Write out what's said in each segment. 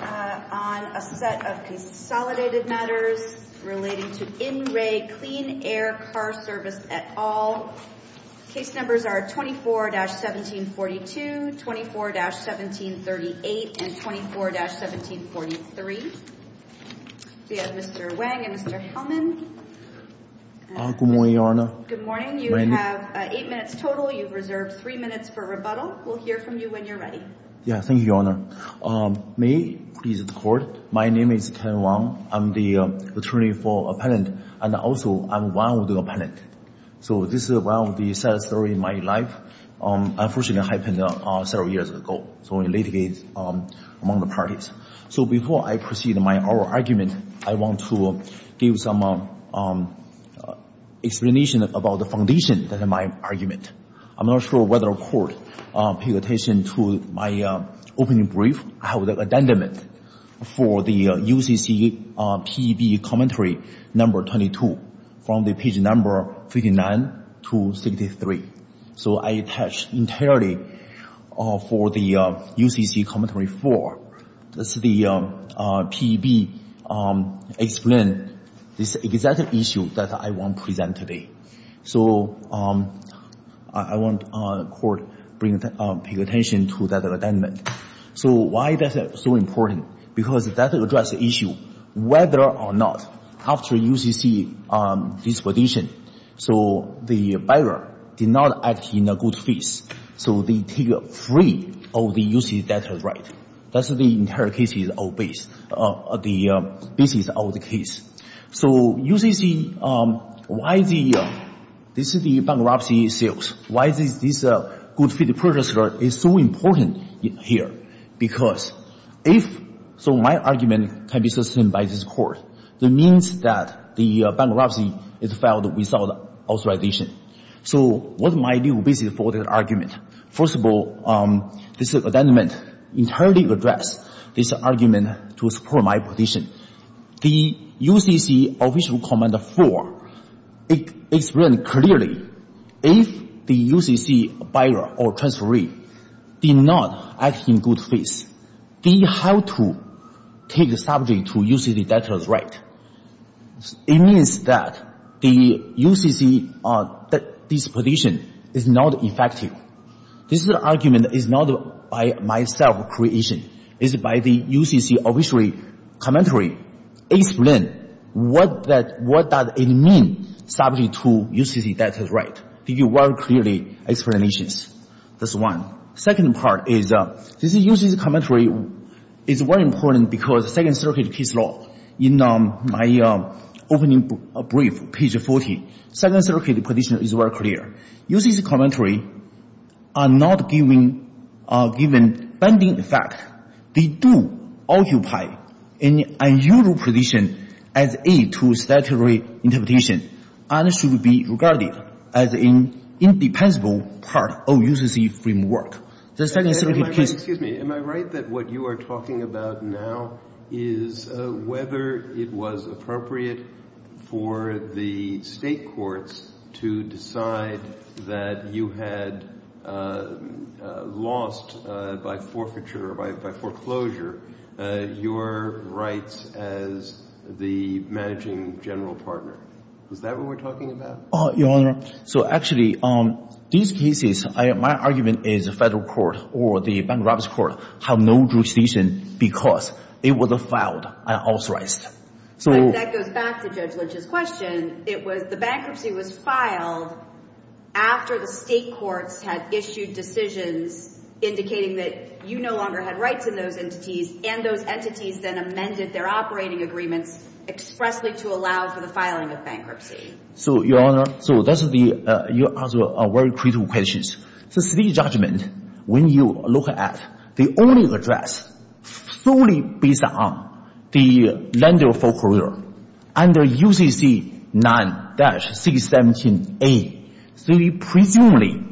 on a set of consolidated matters relating to In Re Clean Air Car Service et al. Case numbers are 24-1742, 24-1738, and 24-1743. We have Mr. Wang and Mr. Hellman. Good morning, Your Honor. Good morning. You have eight minutes total. You've reserved three minutes for rebuttal. We'll hear from you when you're ready. Yeah, thank you, Your Honor. May I please record, my name is Kevin Wang. I'm the attorney for appellant, and also I'm one of the appellant. So this is one of the sad story in my life, unfortunately happened several years ago. So it litigates among the parties. So before I proceed my oral argument, I want to give some explanation about the foundation that in my argument. I'm not sure whether the court pay attention to my opening brief. I have the addendum for the UCC PEB commentary number 22, from the page number 59 to 63. So I attach entirely for the UCC commentary four, this is the PEB explain this exact issue that I want to present today. So I want court pay attention to that addendum. So why is that so important? Because that address the issue, whether or not, after UCC disposition, so the buyer did not act in a good face. So they take free of the UCC data right. That's the entire case, the basis of the case. So UCC, why the bankruptcy sales? Why this good fit purchaser is so important here? Because if, so my argument can be sustained by this court, that means that the bankruptcy is filed without authorization. So what my new basis for the argument? First of all, this addendum entirely address this argument to support my position. The UCC official comment four, it explain clearly, if the UCC buyer or transferee did not act in good face, they have to take the subject to UCC data right. It means that the UCC disposition is not effective. This argument is not by myself creation, it's by the UCC official commentary, explain what does it mean subject to UCC data right. It give very clearly explanations. That's one. Second part is, this UCC commentary is very important because Second Circuit case law. In my opening brief, page 40, Second Circuit position is very clear. UCC commentary are not given binding effect. They do occupy an unusual position as aid to statutory interpretation and should be regarded as an independent part of UCC framework. The Second Circuit case. Excuse me, am I right that what you are talking about now is whether it was appropriate for the state courts to decide that you had lost by forfeiture, by foreclosure, your rights as the managing general partner. Is that what we are talking about? So actually, these cases, my argument is the federal court or the bankruptcy court have no jurisdiction because it was filed and authorized. That goes back to Judge Lynch's question. It was the bankruptcy was filed after the state courts had issued decisions indicating that you no longer had rights in those entities and those entities then amended their operating agreements expressly to allow for the filing of bankruptcy. So Your Honor, so that's the answer to a very critical question. The State Judgment, when you look at the only address fully based on the lender foreclosure under UCC 9-617A, presumably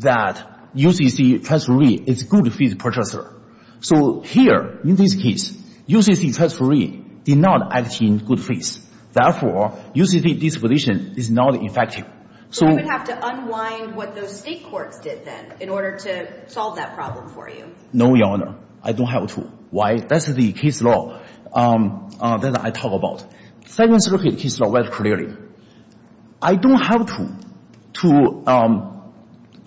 that UCC transferee is a good fee purchaser. So here, in this case, UCC transferee did not act in good faith, therefore, UCC disposition is not effective. So I would have to unwind what those state courts did then in order to solve that problem for you. No, Your Honor. I don't have to. Why? That's the case law that I talk about. Second Circuit case law very clearly. I don't have to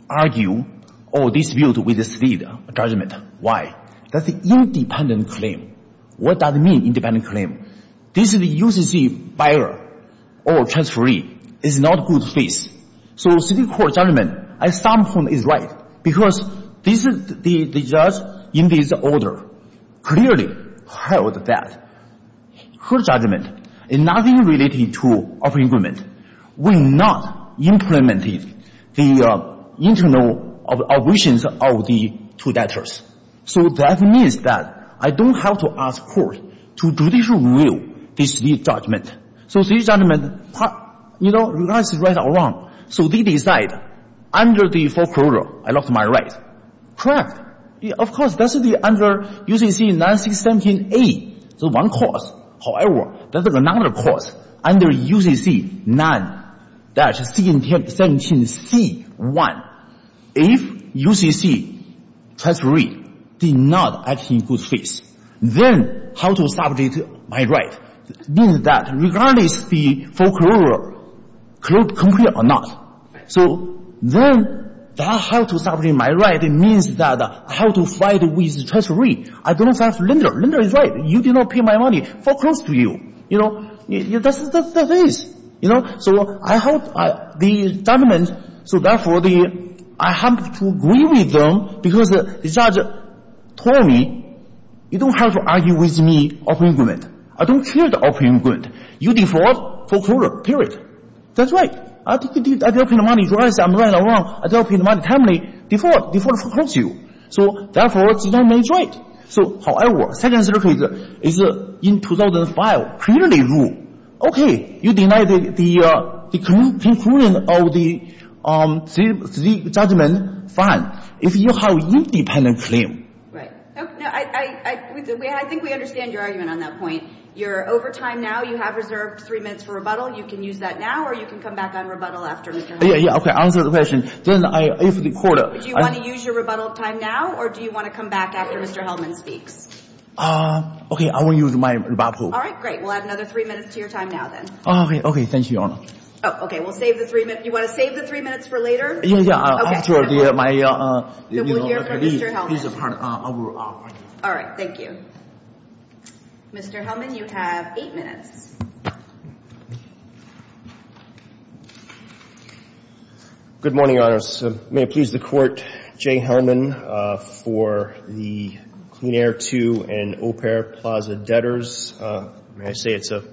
argue or dispute with the State Judgment. Why? That's an independent claim. What does it mean, independent claim? This is the UCC buyer or transferee is not good faith. So the State Court judgment at some point is right because the judge in this order clearly held that her judgment is nothing related to operating agreement. We not implemented the internal obligations of the two debtors. So that means that I don't have to ask court to judicial review the State Judgment. So State Judgment, you know, you guys are right or wrong. So they decide under the foreclosure, I lost my right. Correct. Of course, that should be under UCC 9-617A, the one clause. However, there's another clause under UCC 9-617C1. If UCC transferee did not act in good faith, then how to subject my right? Means that regardless the foreclosure, clear or not. So then that how to subject my right means that how to fight with transferee. I don't have lender. Lender is right. You did not pay my money. Foreclosed to you. You know? That is. You know? So I hope the government, so therefore, I have to agree with them because the judge told me, you don't have to argue with me, operating agreement. I don't care the operating agreement. You default foreclosure. Period. That's right. I did not pay the money. You guys are right or wrong. I did not pay the money timely. Default. Default foreclosed to you. So, therefore, you don't make right. So, however, second circuit is in 2005, clearly rule. Okay. You denied the conclusion of the three judgment. Fine. If you have independent claim. Right. I think we understand your argument on that point. You're over time now. You have reserved three minutes for rebuttal. You can use that now or you can come back on rebuttal after Mr. Hellman. Yeah. Okay. Answer the question. Do you want to use your rebuttal time now or do you want to come back after Mr. Hellman speaks? Okay. I will use my rebuttal. All right. Great. We'll add another three minutes to your time now then. Okay. Thank you, Your Honor. Okay. We'll save the three minutes. Do you want to save the three minutes for later? Yeah. After my rebuttal. We'll hear from Mr. Hellman. All right. Thank you. Mr. Hellman, you have eight minutes. Good morning, Your Honor. May it please the Court, Jay Hellman for the Clean Air II and Au Pair Plaza debtors. May I say it's a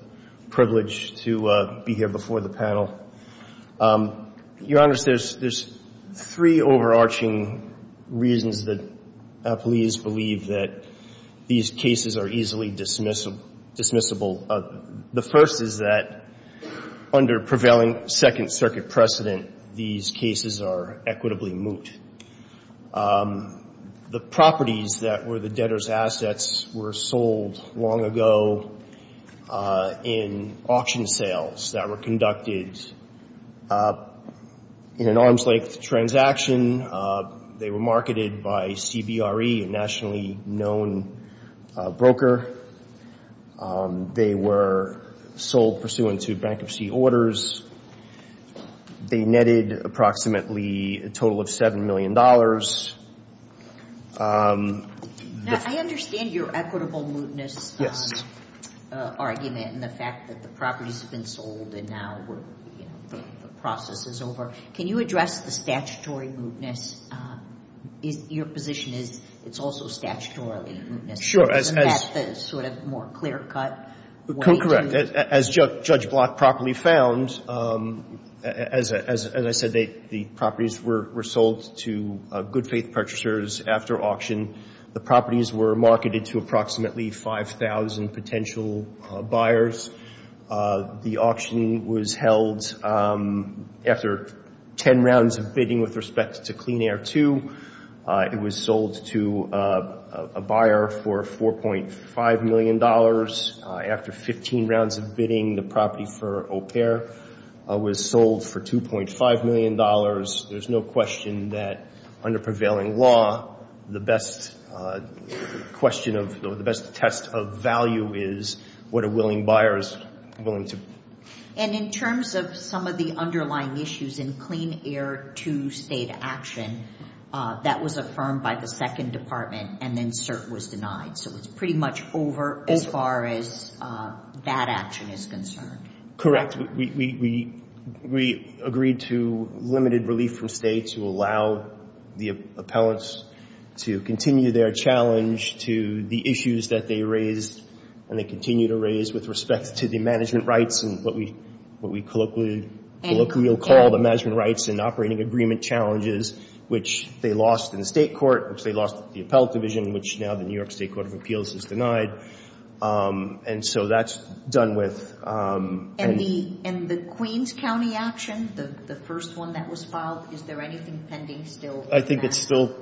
privilege to be here before the panel. Your Honor, there's three overarching reasons that police believe that these cases are easily dismissible. The first is that under prevailing Second Circuit precedent, these cases are equitably moot. The properties that were the debtors' assets were sold long ago in auction sales that were conducted in an arm's-length transaction. They were marketed by CBRE, a nationally known broker. They were sold pursuant to bankruptcy orders. They netted approximately a total of $7 million. Now, I understand your equitable mootness argument and the fact that the properties have been sold and now the process is over. Can you address the statutory mootness? Your position is it's also statutorily mootness. Sure. It's sort of more clear-cut. Correct. As Judge Block properly found, as I said, the properties were sold to good-faith purchasers after auction. The properties were marketed to approximately 5,000 potential buyers. The auction was held after 10 rounds of bidding with respect to Clean Air II. It was sold to a buyer for $4.5 million. After 15 rounds of bidding, the property for AuPair was sold for $2.5 million. There's no question that under prevailing law, the best question or the best test of value is what a willing buyer is willing to pay. In terms of some of the underlying issues in Clean Air II state action, that was affirmed by the second department and then cert was denied. It's pretty much over as far as that action is concerned. Correct. We agreed to limited relief from state to allow the appellants to continue their challenge to the issues that they raised and they continue to raise with respect to the management rights and what we colloquially call the management rights and operating agreement challenges, which they lost in the state court, which they lost at the appellate division, which now the New York State Court of Appeals has denied. And so that's done with. And the Queens County action, the first one that was filed, is there anything pending still? I think that's still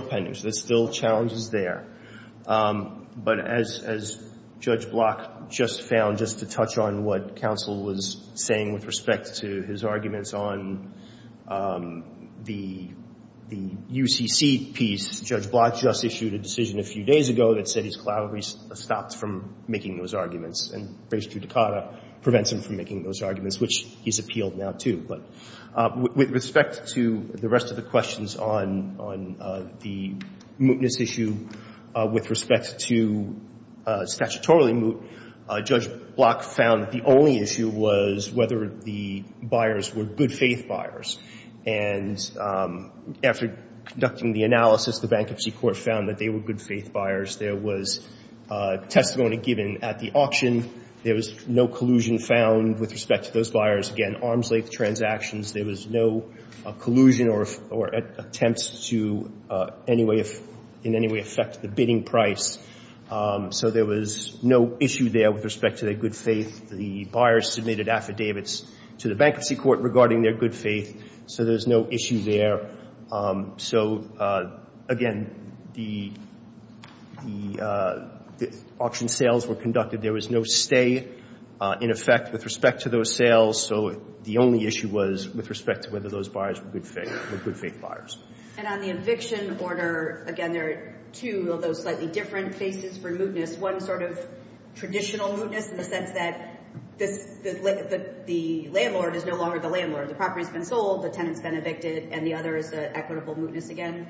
pending. So there's still challenges there. But as Judge Block just found, just to touch on what counsel was saying with respect to his arguments on the UCC piece, Judge Block just issued a decision a few days ago that said he's colloquially stopped from making those arguments and race judicata prevents him from making those arguments, which he's appealed now too. But with respect to the rest of the questions on the mootness issue, with respect to statutorily moot, Judge Block found that the only issue was whether the buyers were good faith buyers. And after conducting the analysis, the bankruptcy court found that they were good faith buyers. There was testimony given at the auction. There was no collusion found with respect to those buyers. Again, arms length transactions, there was no collusion or attempts to in any way affect the bidding price. So there was no issue there with respect to their good faith. The buyers submitted affidavits to the bankruptcy court regarding their good faith. So there's no issue there. So again, the auction sales were conducted. There was no stay in effect with respect to those sales. So the only issue was with respect to whether those buyers were good faith buyers. And on the eviction order, again, there are two of those slightly different faces for mootness. One sort of traditional mootness in the sense that the landlord is no longer the landlord. The property's been sold, the tenant's been evicted, and the other is the equitable mootness again?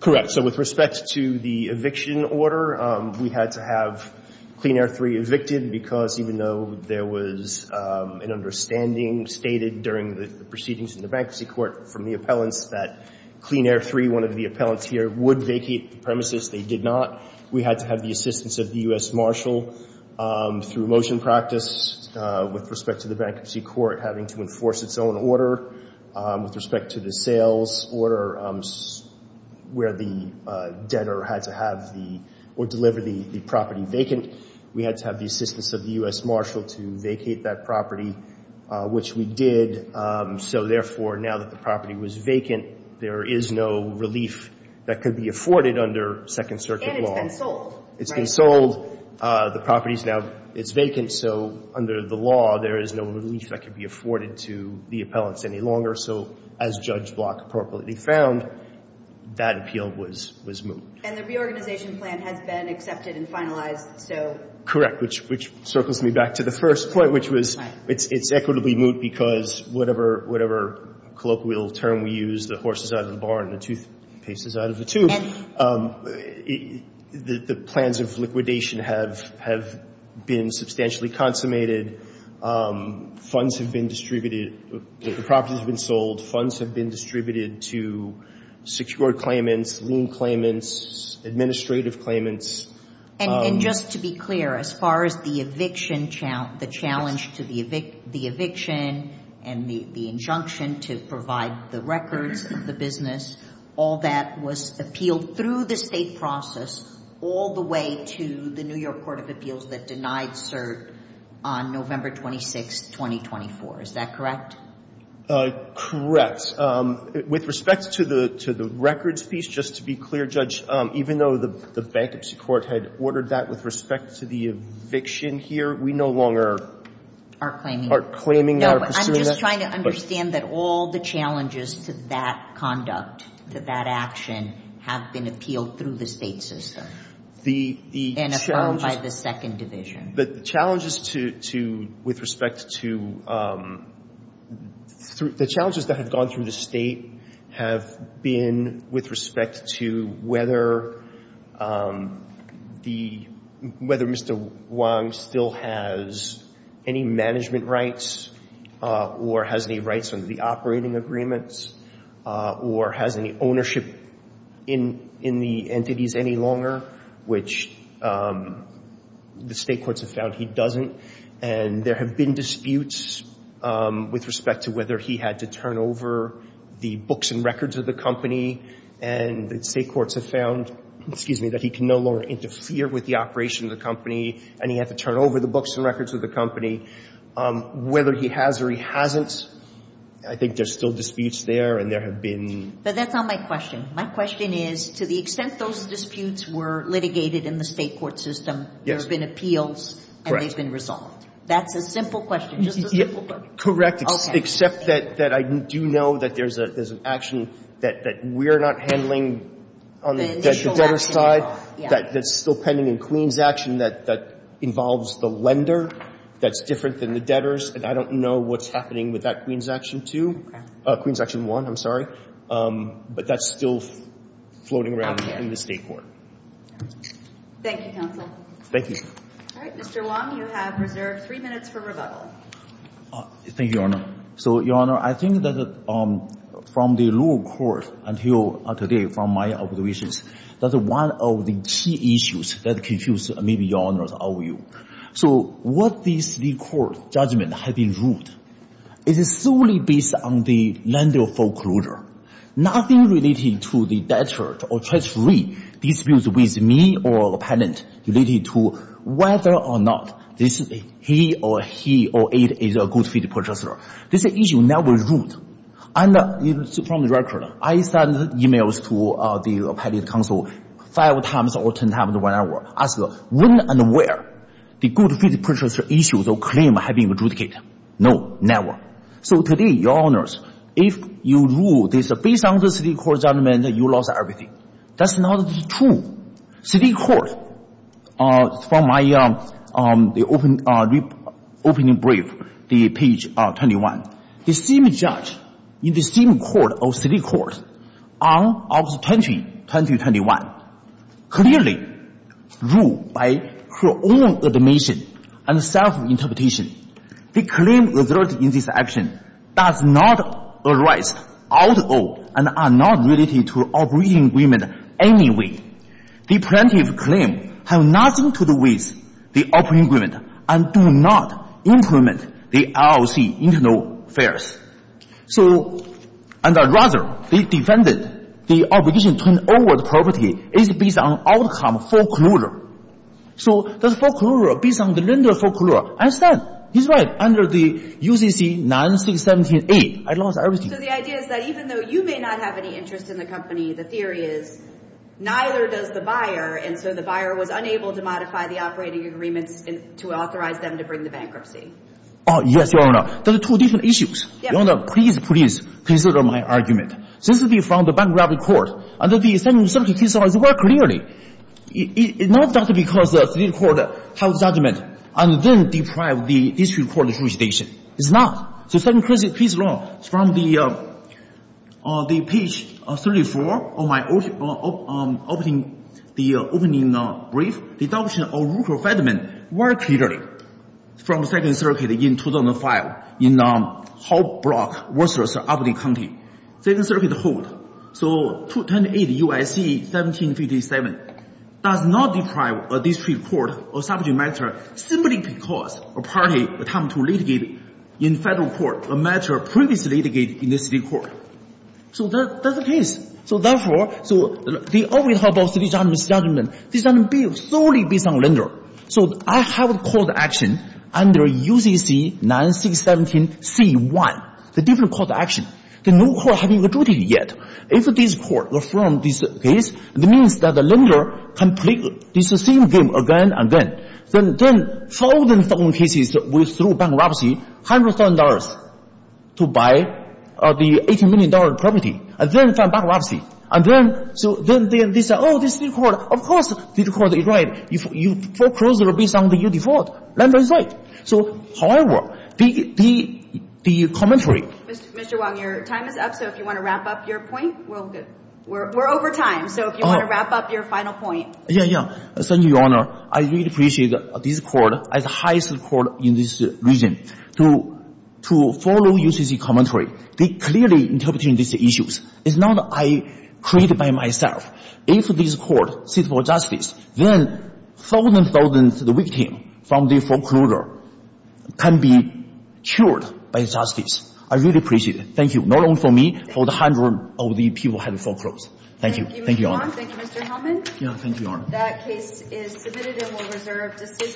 Correct. So with respect to the eviction order, we had to have Clean Air 3 evicted because even though there was an understanding stated during the proceedings in the bankruptcy court from the appellants that Clean Air 3, one of the appellants here, would vacate the premises, they did not. We had to have the assistance of the U.S. Marshal through motion practice with respect to the bankruptcy court having to enforce its own order. With respect to the sales order where the debtor had to have or deliver the property vacant, we had to have the assistance of the U.S. Marshal to vacate that property, which we did. So therefore, now that the property was vacant, there is no relief that could be afforded under Second Circuit law. And it's been sold. It's been sold. The property's now vacant. So under the law, there is no relief that could be afforded to the appellants any longer. So as Judge Block appropriately found, that appeal was moot. And the reorganization plan has been accepted and finalized Correct. Which circles me back to the first point, which was it's equitably moot because whatever colloquial term we use, the horse is out of the barn, the toothpaste is out of the tube. The plans of liquidation have been substantially consummated. Funds have been distributed. The property has been sold. Funds have been distributed to secured claimants, lien claimants, administrative claimants. And just to be clear, as far as the eviction, the challenge to the eviction and the injunction to provide the records of the business, all that was appealed through the State process all the way to the New York Court of Appeals that denied cert on November 26, 2024. Is that correct? Correct. With respect to the records piece, just to be clear, Judge, even though the Bankruptcy Court had ordered that with respect to the eviction here, we no longer are claiming or pursuing that? No, I'm just trying to understand that all the challenges to that conduct, to that action, have been appealed through the State system and affirmed by the Second Division. The challenges that have gone through the State have been with respect to whether Mr. Wong still has any management rights or has any rights under the operating agreements or has any ownership in the entities any longer, which the State courts have found he doesn't. And there have been disputes with respect to whether he had to turn over the books and records of the company and the State courts have found that he can no longer interfere with the operation of the company and he had to turn over the books and records of the company. Whether he has or he hasn't, I think there's still disputes there and there have been... But that's not my question. My question is, to the extent those disputes were litigated in the State court system, there have been appeals and they've been resolved. That's a simple question. Just a simple question. Correct. Except that I do know that there's an action that we're not handling on the debtor's side that's still pending in Queen's action that involves the lender that's different than the debtor's and I don't know what's happening with that Queen's action too. Queen's action one, I'm sorry. But that's still floating around in the State court. Thank you, counsel. Thank you. All right, Mr. Wong, you have reserved three minutes for rebuttal. Thank you, Your Honor. So, Your Honor, I think that from the lower court until today, from my observations, that's one of the key issues that confused maybe Your Honor's overview. So what these three court judgments have been ruled is solely based on the lender foreclosure. Nothing related to the debtor or treachery disputes with me or the patent related to whether or not he or it is a good fit purchaser. This issue never ruled. And from the record, I send emails to the appellate counsel five times or ten times whenever asking when and where the good fit purchaser issues or claims have been adjudicated. No, never. So today, Your Honors, if you rule this based on the three court judgments you lost everything. That's not true. Three courts, from my opening brief, the page 21, the same judge in the same court of three courts on August 20, 2021, clearly ruled by her own admission and self-interpretation the claim resulted in this action does not arise out of and are not related to operating agreement anyway. The plaintiff's claim has nothing to do with the operating agreement and does not implement the LLC internal affairs. So, and rather the defendant's obligation to turn over the property is based on outcome foreclosure. So the foreclosure is based on the lender's foreclosure. I said, he's right, under the UCC 9678 I lost everything. So the idea is that even though you may not have any interest in the company the theory is neither does the buyer and so the buyer was unable to modify the operating agreement to authorize them to bring the bankruptcy. Oh, yes, Your Honor. There are two different issues. Your Honor, please, please consider my argument. This will be from the bankruptcy court under the 17th case law it's very clear. It's not because the three courts have a judgment and then deprive the district court of jurisdiction. It's not. So 17th case law from the page 34 of my opening brief deduction of Rupert Federman very clearly from Second Circuit in 2005 in Hope Block versus Albany County. Second Circuit hold so 28 UIC 1757 does not deprive a district court of subject matter simply because a party attempt to litigate in federal court a matter previously litigated in the city court. So that's the case. So therefore they always talk about three judgments judgment solely based on lender. So I have a court action under UCC 9617C1 the different court action. The new court haven't adjudicated yet. If this court affirms this case it means that the lender can play this same game again and again. Then thousands of cases with through bankruptcy $100,000 to buy the $80 million property and then from bankruptcy and then so then they say oh this new court of course this court is right. If you foreclose based on your default lender is right. So however the commentary Mr. Wang your time is up so if you want to wrap up your point we're over time so if you want to wrap up your final point Yeah, yeah. Thank you, Your Honor. I really appreciate this court as highest court in this region to follow UCC commentary. They clearly interpret these issues. It's not I created by myself. If this court seeks for justice then thousands of victims from the foreclosure can be by justice. I really appreciate it. Thank you. Not only for me for the hundreds of people who had to foreclose. Thank you. Thank you, Your Honor. Thank you, Mr. Helman. Thank you, Your Honor. That case is submitted and will reserve decision.